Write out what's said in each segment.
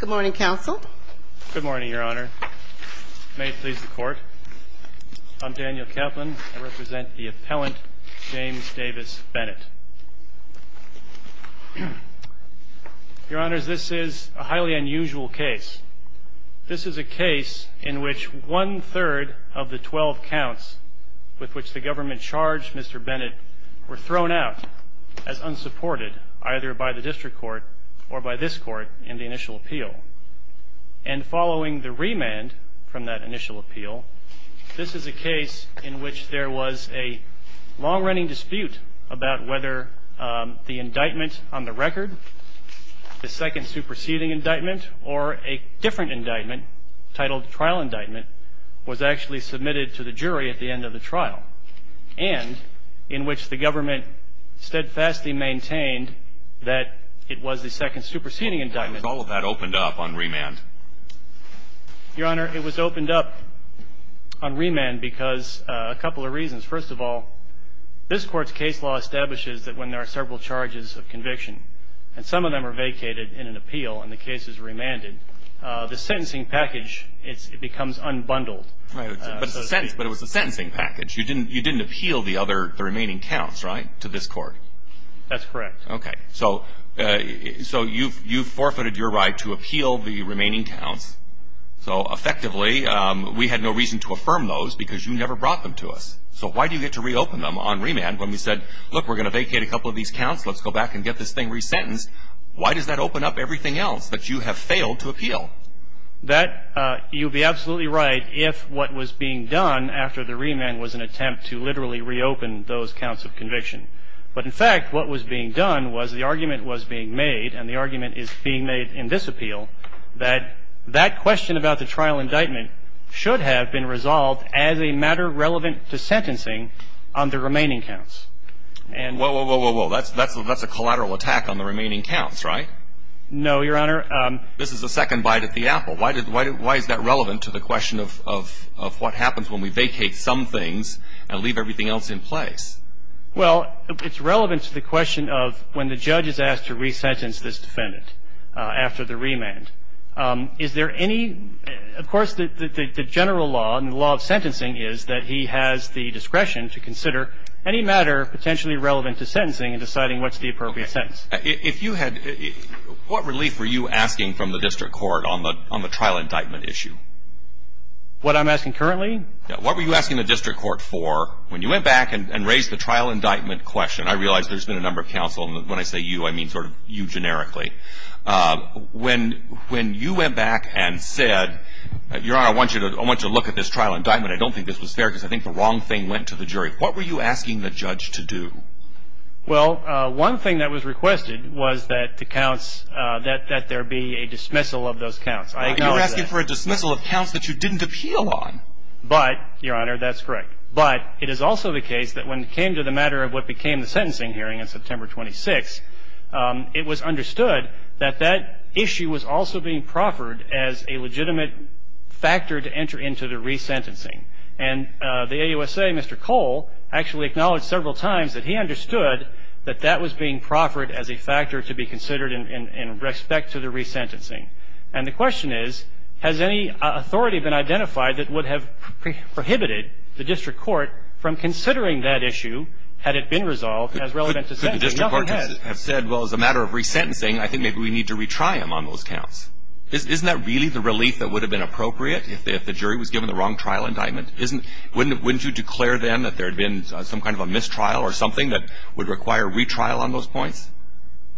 Good morning, counsel. Good morning, your honor. May it please the court. I'm Daniel Kaplan. I represent the appellant, James Davis Bennett. Your honors, this is a highly unusual case. This is a case in which one-third of the 12 counts with which the government charged Mr. Bennett were thrown out as unsupported either by the district court or by this court in the initial appeal. And following the remand from that initial appeal, this is a case in which there was a long-running dispute about whether the indictment on the record, the second superseding indictment, or a different indictment titled trial indictment, was actually submitted to the jury at the end of the trial and in which the government steadfastly maintained that it was the second superseding indictment. All of that opened up on remand. Your honor, it was opened up on remand because a couple of reasons. First of all, this court's case law unbundled. But it was a sentencing package. You didn't appeal the remaining counts, right, to this court? That's correct. Okay. So you've forfeited your right to appeal the remaining counts. So effectively, we had no reason to affirm those because you never brought them to us. So why do you get to reopen them on remand when we said, look, we're going to vacate a couple of these counts. Let's go back and get this thing resentenced. Why does that open up everything else that you have failed to appeal? That, you'd be absolutely right if what was being done after the remand was an attempt to literally reopen those counts of conviction. But in fact, what was being done was the argument was being made, and the argument is being made in this appeal, that that question about the trial indictment should have been resolved as a matter relevant to sentencing on the remaining counts. Whoa, whoa, whoa, whoa. That's a collateral attack on the remaining counts, right? No, Your Honor. This is a second bite at the apple. Why is that relevant to the question of what happens when we vacate some things and leave everything else in place? Well, it's relevant to the question of when the judge is asked to resentence this defendant after the remand. Is there any, of course, the general law and the law of sentencing is that he has the discretion to consider any matter potentially relevant to sentencing and deciding what's the appropriate sentence. If you had, what relief were you asking from the district court on the trial indictment issue? What I'm asking currently? What were you asking the district court for when you went back and raised the trial indictment question? I realize there's been a number of counsel, and when I say you, I mean sort of you generically. When you went back and said, Your Honor, I want to look at this trial indictment. I don't think this was fair because I think the wrong thing went to the jury. What were you asking the judge to do? Well, one thing that was requested was that there be a dismissal of those counts. You're asking for a dismissal of counts that you didn't appeal on. But, Your Honor, that's correct. But it is also the case that when it came to the matter of what became the sentencing hearing on September 26, it was And the AUSA, Mr. Cole, actually acknowledged several times that he understood that that was being proffered as a factor to be considered in respect to the resentencing. And the question is, has any authority been identified that would have prohibited the district court from considering that issue had it been resolved as relevant to sentencing? The district courts have said, Well, as a matter of resentencing, I think maybe we need to retry them on those if the jury was given the wrong trial indictment. Wouldn't you declare then that there had been some kind of a mistrial or something that would require retrial on those points?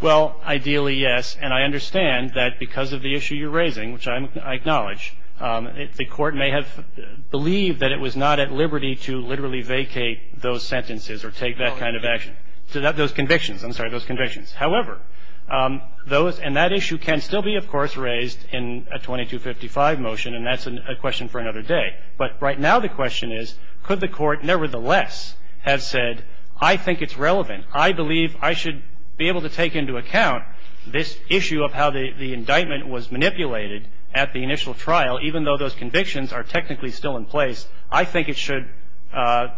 Well, ideally, yes. And I understand that because of the issue you're raising, which I acknowledge, the court may have believed that it was not at liberty to literally vacate those sentences or take that kind of action, those convictions. I'm sorry, those convictions. However, those and that issue can still be, of course, raised in a 2255 motion. And that's a question for another day. But right now, the question is, could the court nevertheless have said, I think it's relevant. I believe I should be able to take into account this issue of how the indictment was manipulated at the initial trial, even though those convictions are technically still in place. I think it should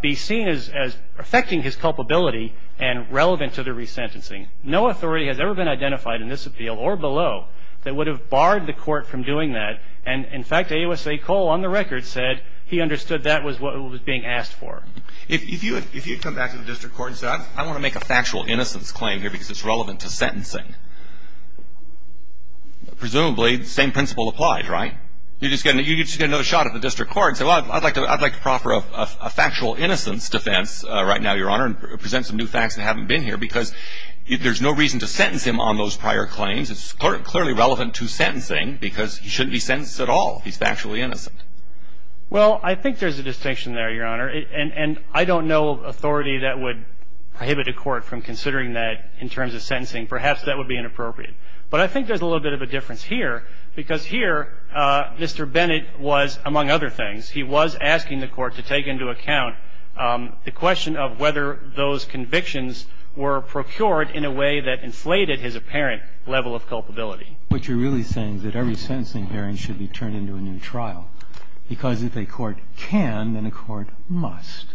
be seen as affecting his culpability and relevant to the resentencing. No authority has ever been identified in this appeal or below that would have barred the court from doing that. And in fact, AUSA Cole, on the record, said he understood that was what was being asked for. If you had come back to the district court and said, I want to make a factual innocence claim here because it's relevant to sentencing, presumably, the same principle applied, right? You just get another shot at the district court and say, well, I'd like to proffer a factual innocence defense right now, Your Honor, and present some new facts that haven't been here because there's no reason to sentence him on those prior claims. It's clearly relevant to sentencing because he shouldn't be sentenced at all. He's factually innocent. Well, I think there's a distinction there, Your Honor. And I don't know of authority that would prohibit a court from considering that in terms of sentencing. Perhaps that would be inappropriate. But I think there's a little bit of a difference here because here, Mr. Bennett was, among other things, he was asking the court to take into account the question of whether those convictions were procured in a way that inflated his apparent level of culpability. What you're really saying is that every sentencing hearing should be turned into a new trial because if a court can, then a court must.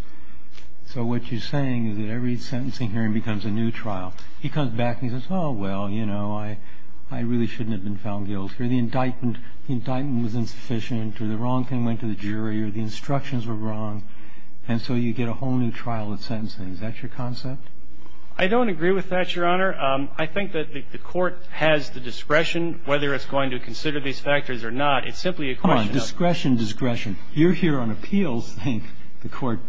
So what you're saying is that every sentencing hearing becomes a new trial. He comes back and he says, oh, well, you know, I really shouldn't have been found guilty, or the indictment was insufficient, or the wrong thing went to the jury, or the instructions were wrong. And so you get a whole new trial of sentencing. Is that your concept? I don't agree with that, Your Honor. I think that the court has the discretion whether it's going to consider these factors or not. It's simply a question of discretion. You're here on appeals saying the court,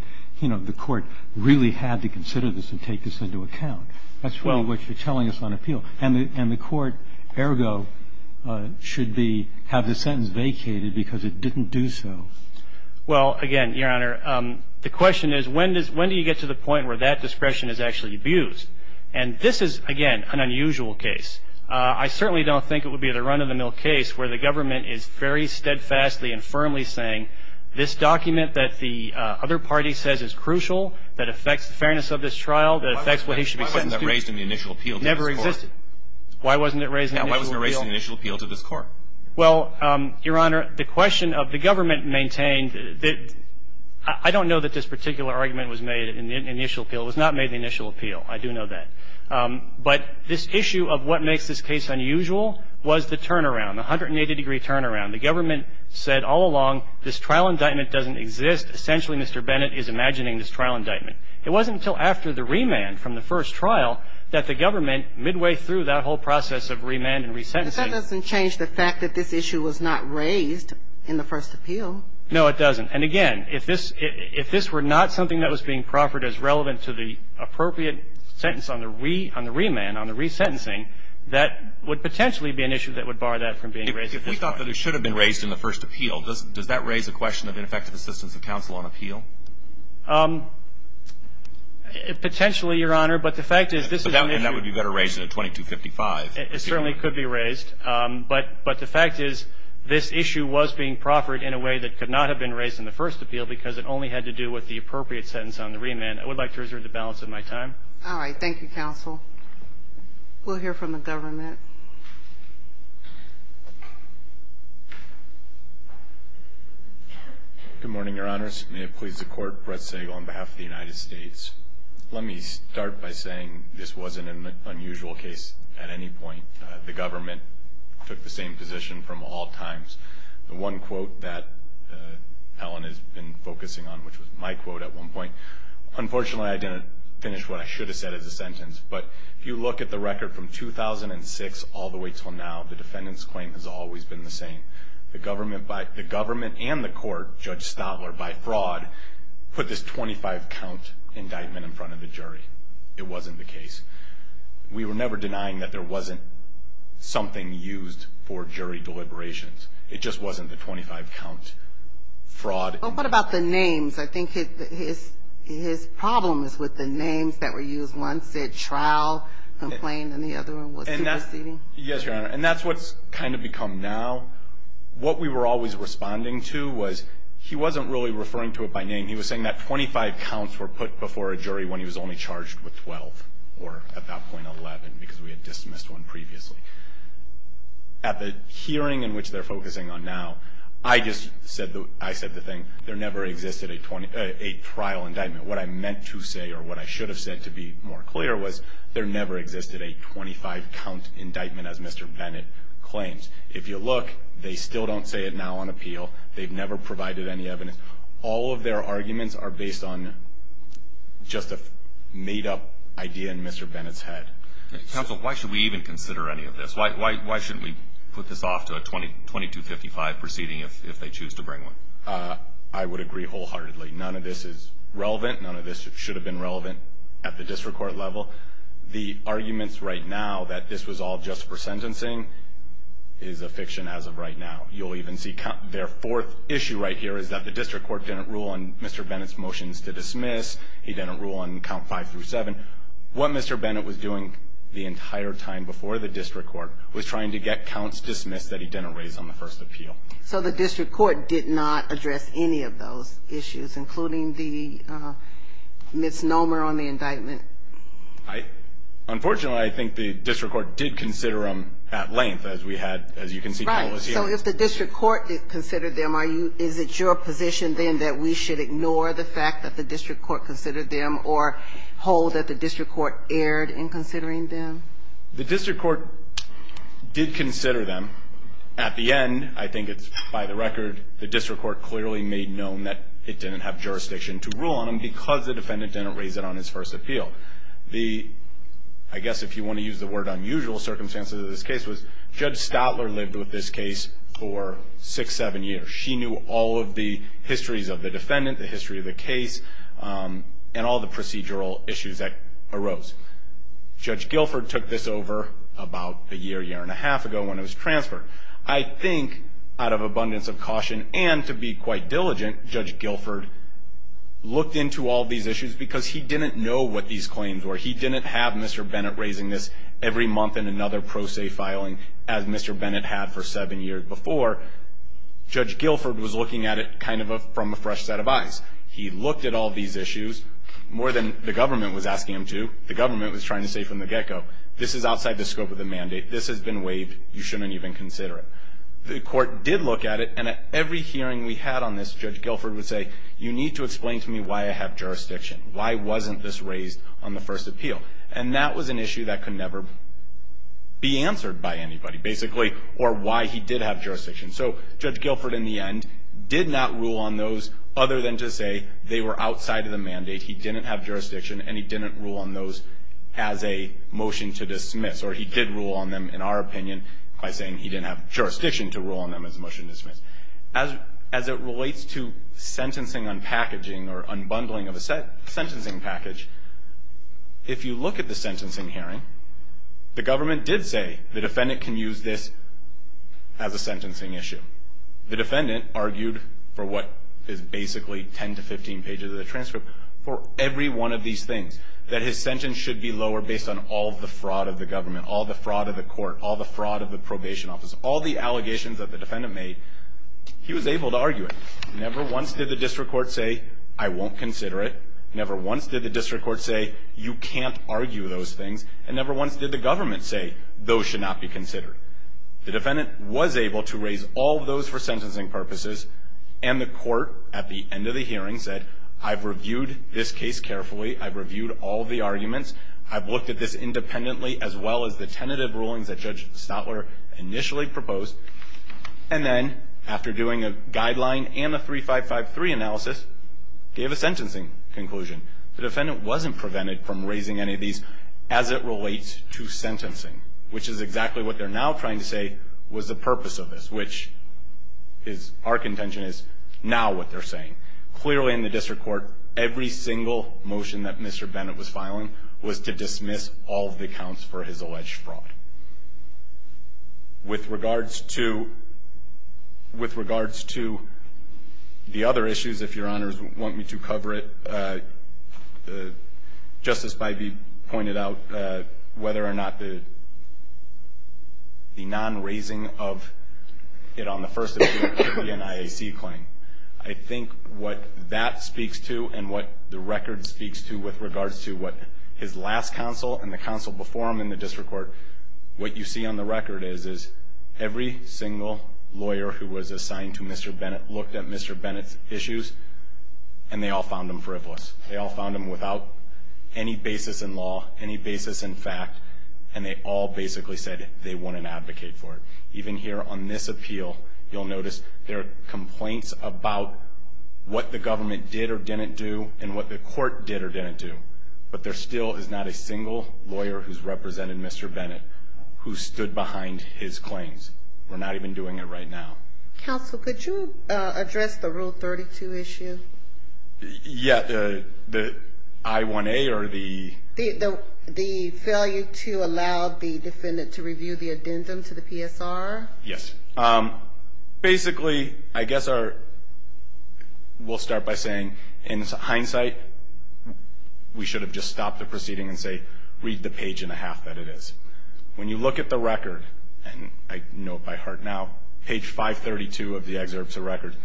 you know, the court really had to consider this and take this into account. That's really what you're telling us on appeal. And the court, ergo, should have the sentence vacated because it didn't do so. Well, again, Your Honor, the question is when do you get to the point where that discretion is actually abused? And this is, again, an unusual case. I certainly don't think it would be a run-of-the-mill case where the government is very steadfastly and firmly saying this document that the other party says is crucial, that affects the fairness of this trial, that affects what he should be sentenced to. Why wasn't that raised in the initial appeal to this court? It never existed. Why wasn't it raised in the initial appeal? Yeah, why wasn't it raised in the initial appeal to this court? Well, Your Honor, the question of the government maintained that I don't know that this particular argument was made in the initial appeal. It was not made in the initial appeal. I do know that. But this issue of what makes this case unusual was the turnaround, the 180-degree turnaround. The government said all along this trial indictment doesn't exist. Essentially, Mr. Bennett is imagining this trial indictment. It wasn't until after the remand from the first trial that the government, midway through that whole process of remand and resentencing But that doesn't change the fact that this issue was not raised in the first appeal. No, it doesn't. And, again, if this were not something that was being proffered as relevant to the appropriate sentence on the remand, on the resentencing, that would potentially be an issue that would bar that from being raised at this point. If we thought that it should have been raised in the first appeal, does that raise a question of ineffective assistance of counsel on appeal? Potentially, Your Honor, but the fact is this is an issue And that would be better raised in a 2255 It certainly could be raised. But the fact is this issue was being proffered in a way that could not have been raised in the first appeal because it only had to do with the appropriate sentence on the remand. I would like to reserve the balance of my time. All right. Thank you, counsel. We'll hear from the government. Good morning, Your Honors. May it please the Court, Brett Segal on behalf of the United States. Let me start by saying this wasn't an unusual case at any point. The government took the same position from all times. The one quote that Ellen has been focusing on, which was my quote at one point, Unfortunately, I didn't finish what I should have said as a sentence. But if you look at the record from 2006 all the way until now, the defendant's claim has always been the same. The government and the court, Judge Stotler, by fraud, put this 25-count indictment in front of the jury. It wasn't the case. We were never denying that there wasn't something used for jury deliberations. It just wasn't the 25-count fraud. Well, what about the names? I think his problem is with the names that were used. One said trial complaint, and the other one was superseding. Yes, Your Honor. And that's what's kind of become now. What we were always responding to was he wasn't really referring to it by name. He was saying that 25 counts were put before a jury when he was only charged with 12 or about .11 because we had dismissed one previously. At the hearing in which they're focusing on now, I just said the thing. There never existed a trial indictment. What I meant to say or what I should have said to be more clear was there never existed a 25-count indictment as Mr. Bennett claims. If you look, they still don't say it now on appeal. They've never provided any evidence. All of their arguments are based on just a made-up idea in Mr. Bennett's head. Counsel, why should we even consider any of this? Why shouldn't we put this off to a 2255 proceeding if they choose to bring one? I would agree wholeheartedly. None of this is relevant. None of this should have been relevant at the district court level. The arguments right now that this was all just for sentencing is a fiction as of right now. You'll even see their fourth issue right here is that the district court didn't rule on Mr. Bennett's motions to dismiss. He didn't rule on count five through seven. What Mr. Bennett was doing the entire time before the district court was trying to get counts dismissed that he didn't raise on the first appeal. So the district court did not address any of those issues, including the misnomer on the indictment? Unfortunately, I think the district court did consider them at length, as we had, as you can see. Right. So if the district court considered them, is it your position, then, that we should ignore the fact that the district court considered them or hold that the district court erred in considering them? The district court did consider them. At the end, I think it's by the record, the district court clearly made known that it didn't have jurisdiction to rule on him because the defendant didn't raise it on his first appeal. The, I guess if you want to use the word unusual circumstances of this case, was Judge Stadler lived with this case for six, seven years. So she knew all of the histories of the defendant, the history of the case, and all the procedural issues that arose. Judge Guilford took this over about a year, year and a half ago when it was transferred. I think, out of abundance of caution and to be quite diligent, Judge Guilford looked into all these issues because he didn't know what these claims were. He didn't have Mr. Bennett raising this every month in another pro se filing as Mr. Bennett had for seven years before. Judge Guilford was looking at it kind of from a fresh set of eyes. He looked at all these issues more than the government was asking him to. The government was trying to say from the get-go, this is outside the scope of the mandate. This has been waived. You shouldn't even consider it. The court did look at it, and at every hearing we had on this, Judge Guilford would say, you need to explain to me why I have jurisdiction. Why wasn't this raised on the first appeal? And that was an issue that could never be answered by anybody, basically, or why he did have jurisdiction. So Judge Guilford, in the end, did not rule on those other than to say they were outside of the mandate. He didn't have jurisdiction, and he didn't rule on those as a motion to dismiss. Or he did rule on them, in our opinion, by saying he didn't have jurisdiction to rule on them as a motion to dismiss. As it relates to sentencing unpackaging or unbundling of a sentencing package, if you look at the sentencing hearing, the government did say the defendant can use this as a sentencing issue. The defendant argued for what is basically 10 to 15 pages of the transcript for every one of these things, that his sentence should be lower based on all the fraud of the government, all the fraud of the court, all the fraud of the probation office, all the allegations that the defendant made. He was able to argue it. Never once did the district court say, I won't consider it. Never once did the district court say, you can't argue those things. And never once did the government say, those should not be considered. The defendant was able to raise all of those for sentencing purposes. And the court, at the end of the hearing, said, I've reviewed this case carefully. I've reviewed all of the arguments. I've looked at this independently, as well as the tentative rulings that Judge Stotler initially proposed. And then, after doing a guideline and a 3553 analysis, gave a sentencing conclusion. The defendant wasn't prevented from raising any of these as it relates to sentencing, which is exactly what they're now trying to say was the purpose of this, which is, our contention is, now what they're saying. Clearly, in the district court, every single motion that Mr. Bennett was filing was to dismiss all of the accounts for his alleged fraud. With regards to the other issues, if Your Honors want me to cover it, Justice Bybee pointed out whether or not the non-raising of it on the first appeal could be an IAC claim. I think what that speaks to and what the record speaks to with regards to what his last counsel and the counsel before him in the district court, what you see on the record is every single lawyer who was assigned to Mr. Bennett looked at Mr. Bennett's issues, and they all found him frivolous. They all found him without any basis in law, any basis in fact, and they all basically said they wouldn't advocate for it. Even here on this appeal, you'll notice there are complaints about what the government did or didn't do and what the court did or didn't do. But there still is not a single lawyer who's represented Mr. Bennett who stood behind his claims. We're not even doing it right now. Counsel, could you address the Rule 32 issue? Yeah, the I-1A or the? The failure to allow the defendant to review the addendum to the PSR? Yes. Basically, I guess our ‑‑ we'll start by saying in hindsight, we should have just stopped the proceeding and say, read the page and a half that it is. When you look at the record, and I know it by heart now, page 532 of the excerpts of record,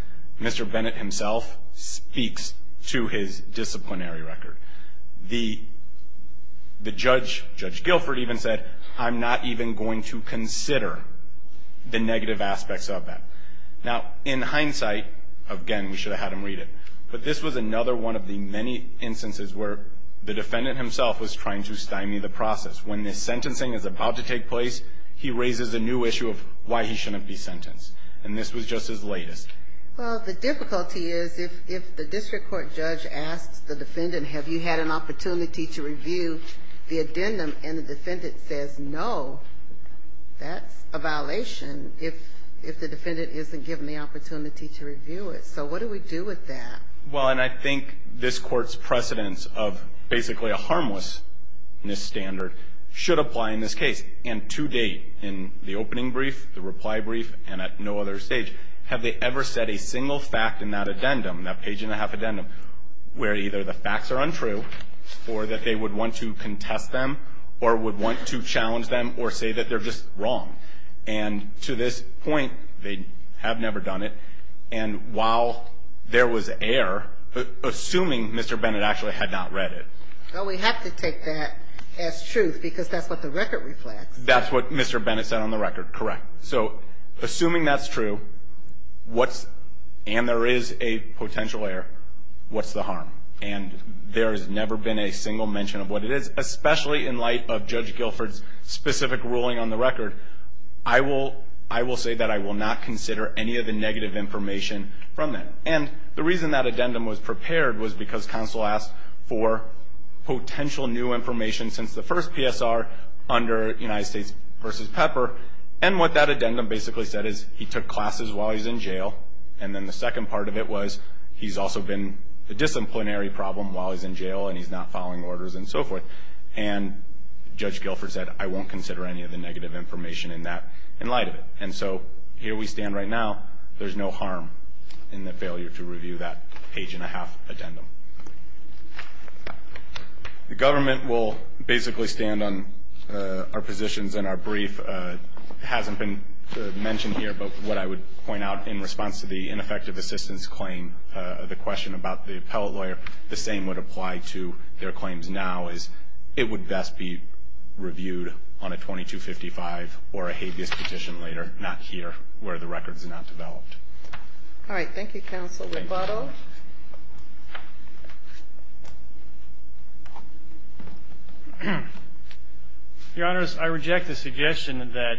Mr. Bennett himself speaks to his disciplinary record. The judge, Judge Guilford, even said, I'm not even going to consider the negative aspects of that. Now, in hindsight, again, we should have had him read it. But this was another one of the many instances where the defendant himself was trying to stymie the process. When the sentencing is about to take place, he raises a new issue of why he shouldn't be sentenced. And this was just his latest. Well, the difficulty is if the district court judge asks the defendant, have you had an opportunity to review the addendum, and the defendant says no, that's a violation if the defendant isn't given the opportunity to review it. So what do we do with that? Well, and I think this Court's precedence of basically a harmlessness standard should apply in this case. And to date, in the opening brief, the reply brief, and at no other stage, have they ever said a single fact in that addendum, that page-and-a-half addendum, where either the facts are untrue or that they would want to contest them or would want to challenge them or say that they're just wrong. And to this point, they have never done it. And while there was error, assuming Mr. Bennett actually had not read it. Well, we have to take that as truth because that's what the record reflects. That's what Mr. Bennett said on the record, correct. So assuming that's true, and there is a potential error, what's the harm? And there has never been a single mention of what it is, especially in light of Judge Guilford's specific ruling on the record. I will say that I will not consider any of the negative information from that. And the reason that addendum was prepared was because counsel asked for potential new information since the first PSR under United States v. Pepper, and what that addendum basically said is he took classes while he's in jail, and then the second part of it was he's also been a disciplinary problem while he's in jail and he's not following orders and so forth. And Judge Guilford said, I won't consider any of the negative information in that in light of it. And so here we stand right now. There's no harm in the failure to review that page-and-a-half addendum. The government will basically stand on our positions in our brief. It hasn't been mentioned here, but what I would point out in response to the ineffective assistance claim, the question about the appellate lawyer, the same would apply to their claims now, is it would best be reviewed on a 2255 or a habeas petition later, not here where the record's not developed. All right. Thank you, counsel. Rebuttal. Your Honors, I reject the suggestion that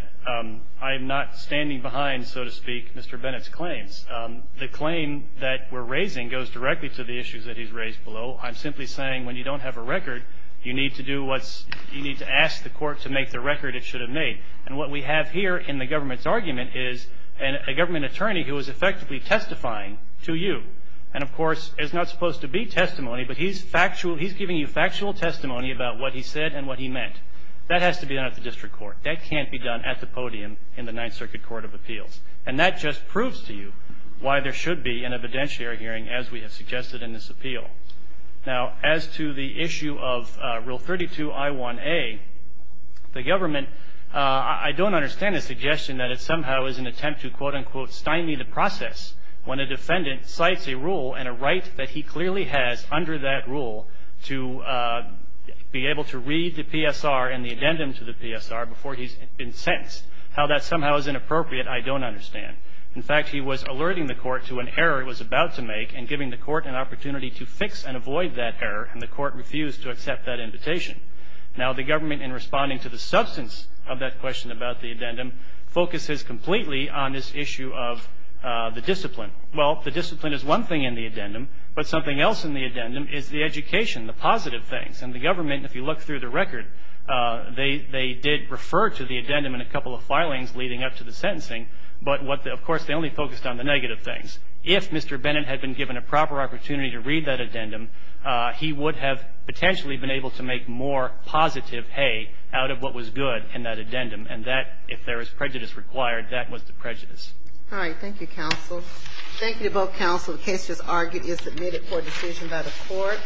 I'm not standing behind, so to speak, Mr. Bennett's claims. The claim that we're raising goes directly to the issues that he's raised below. I'm simply saying when you don't have a record, you need to ask the court to make the record it should have made. And what we have here in the government's argument is a government attorney who is effectively testifying to you. And, of course, there's not supposed to be testimony, but he's giving you factual testimony about what he said and what he meant. That has to be done at the district court. That can't be done at the podium in the Ninth Circuit Court of Appeals. And that just proves to you why there should be an evidentiary hearing, as we have suggested in this appeal. Now, as to the issue of Rule 32I1A, the government, I don't understand the suggestion that it somehow is an attempt to, quote, unquote, stymie the process when a defendant cites a rule and a right that he clearly has under that rule to be able to read the PSR and the addendum to the PSR before he's been sentenced. How that somehow is inappropriate, I don't understand. In fact, he was alerting the court to an error he was about to make and giving the court an opportunity to fix and avoid that error, and the court refused to accept that invitation. Now, the government, in responding to the substance of that question about the addendum, focuses completely on this issue of the discipline. Well, the discipline is one thing in the addendum, but something else in the addendum is the education, the positive things. And the government, if you look through the record, they did refer to the addendum in a couple of filings leading up to the sentencing. But, of course, they only focused on the negative things. If Mr. Bennett had been given a proper opportunity to read that addendum, he would have potentially been able to make more positive hay out of what was good in that addendum. And that, if there is prejudice required, that was the prejudice. All right. Thank you, counsel. Thank you to both counsel. The case just argued is submitted for decision by the court.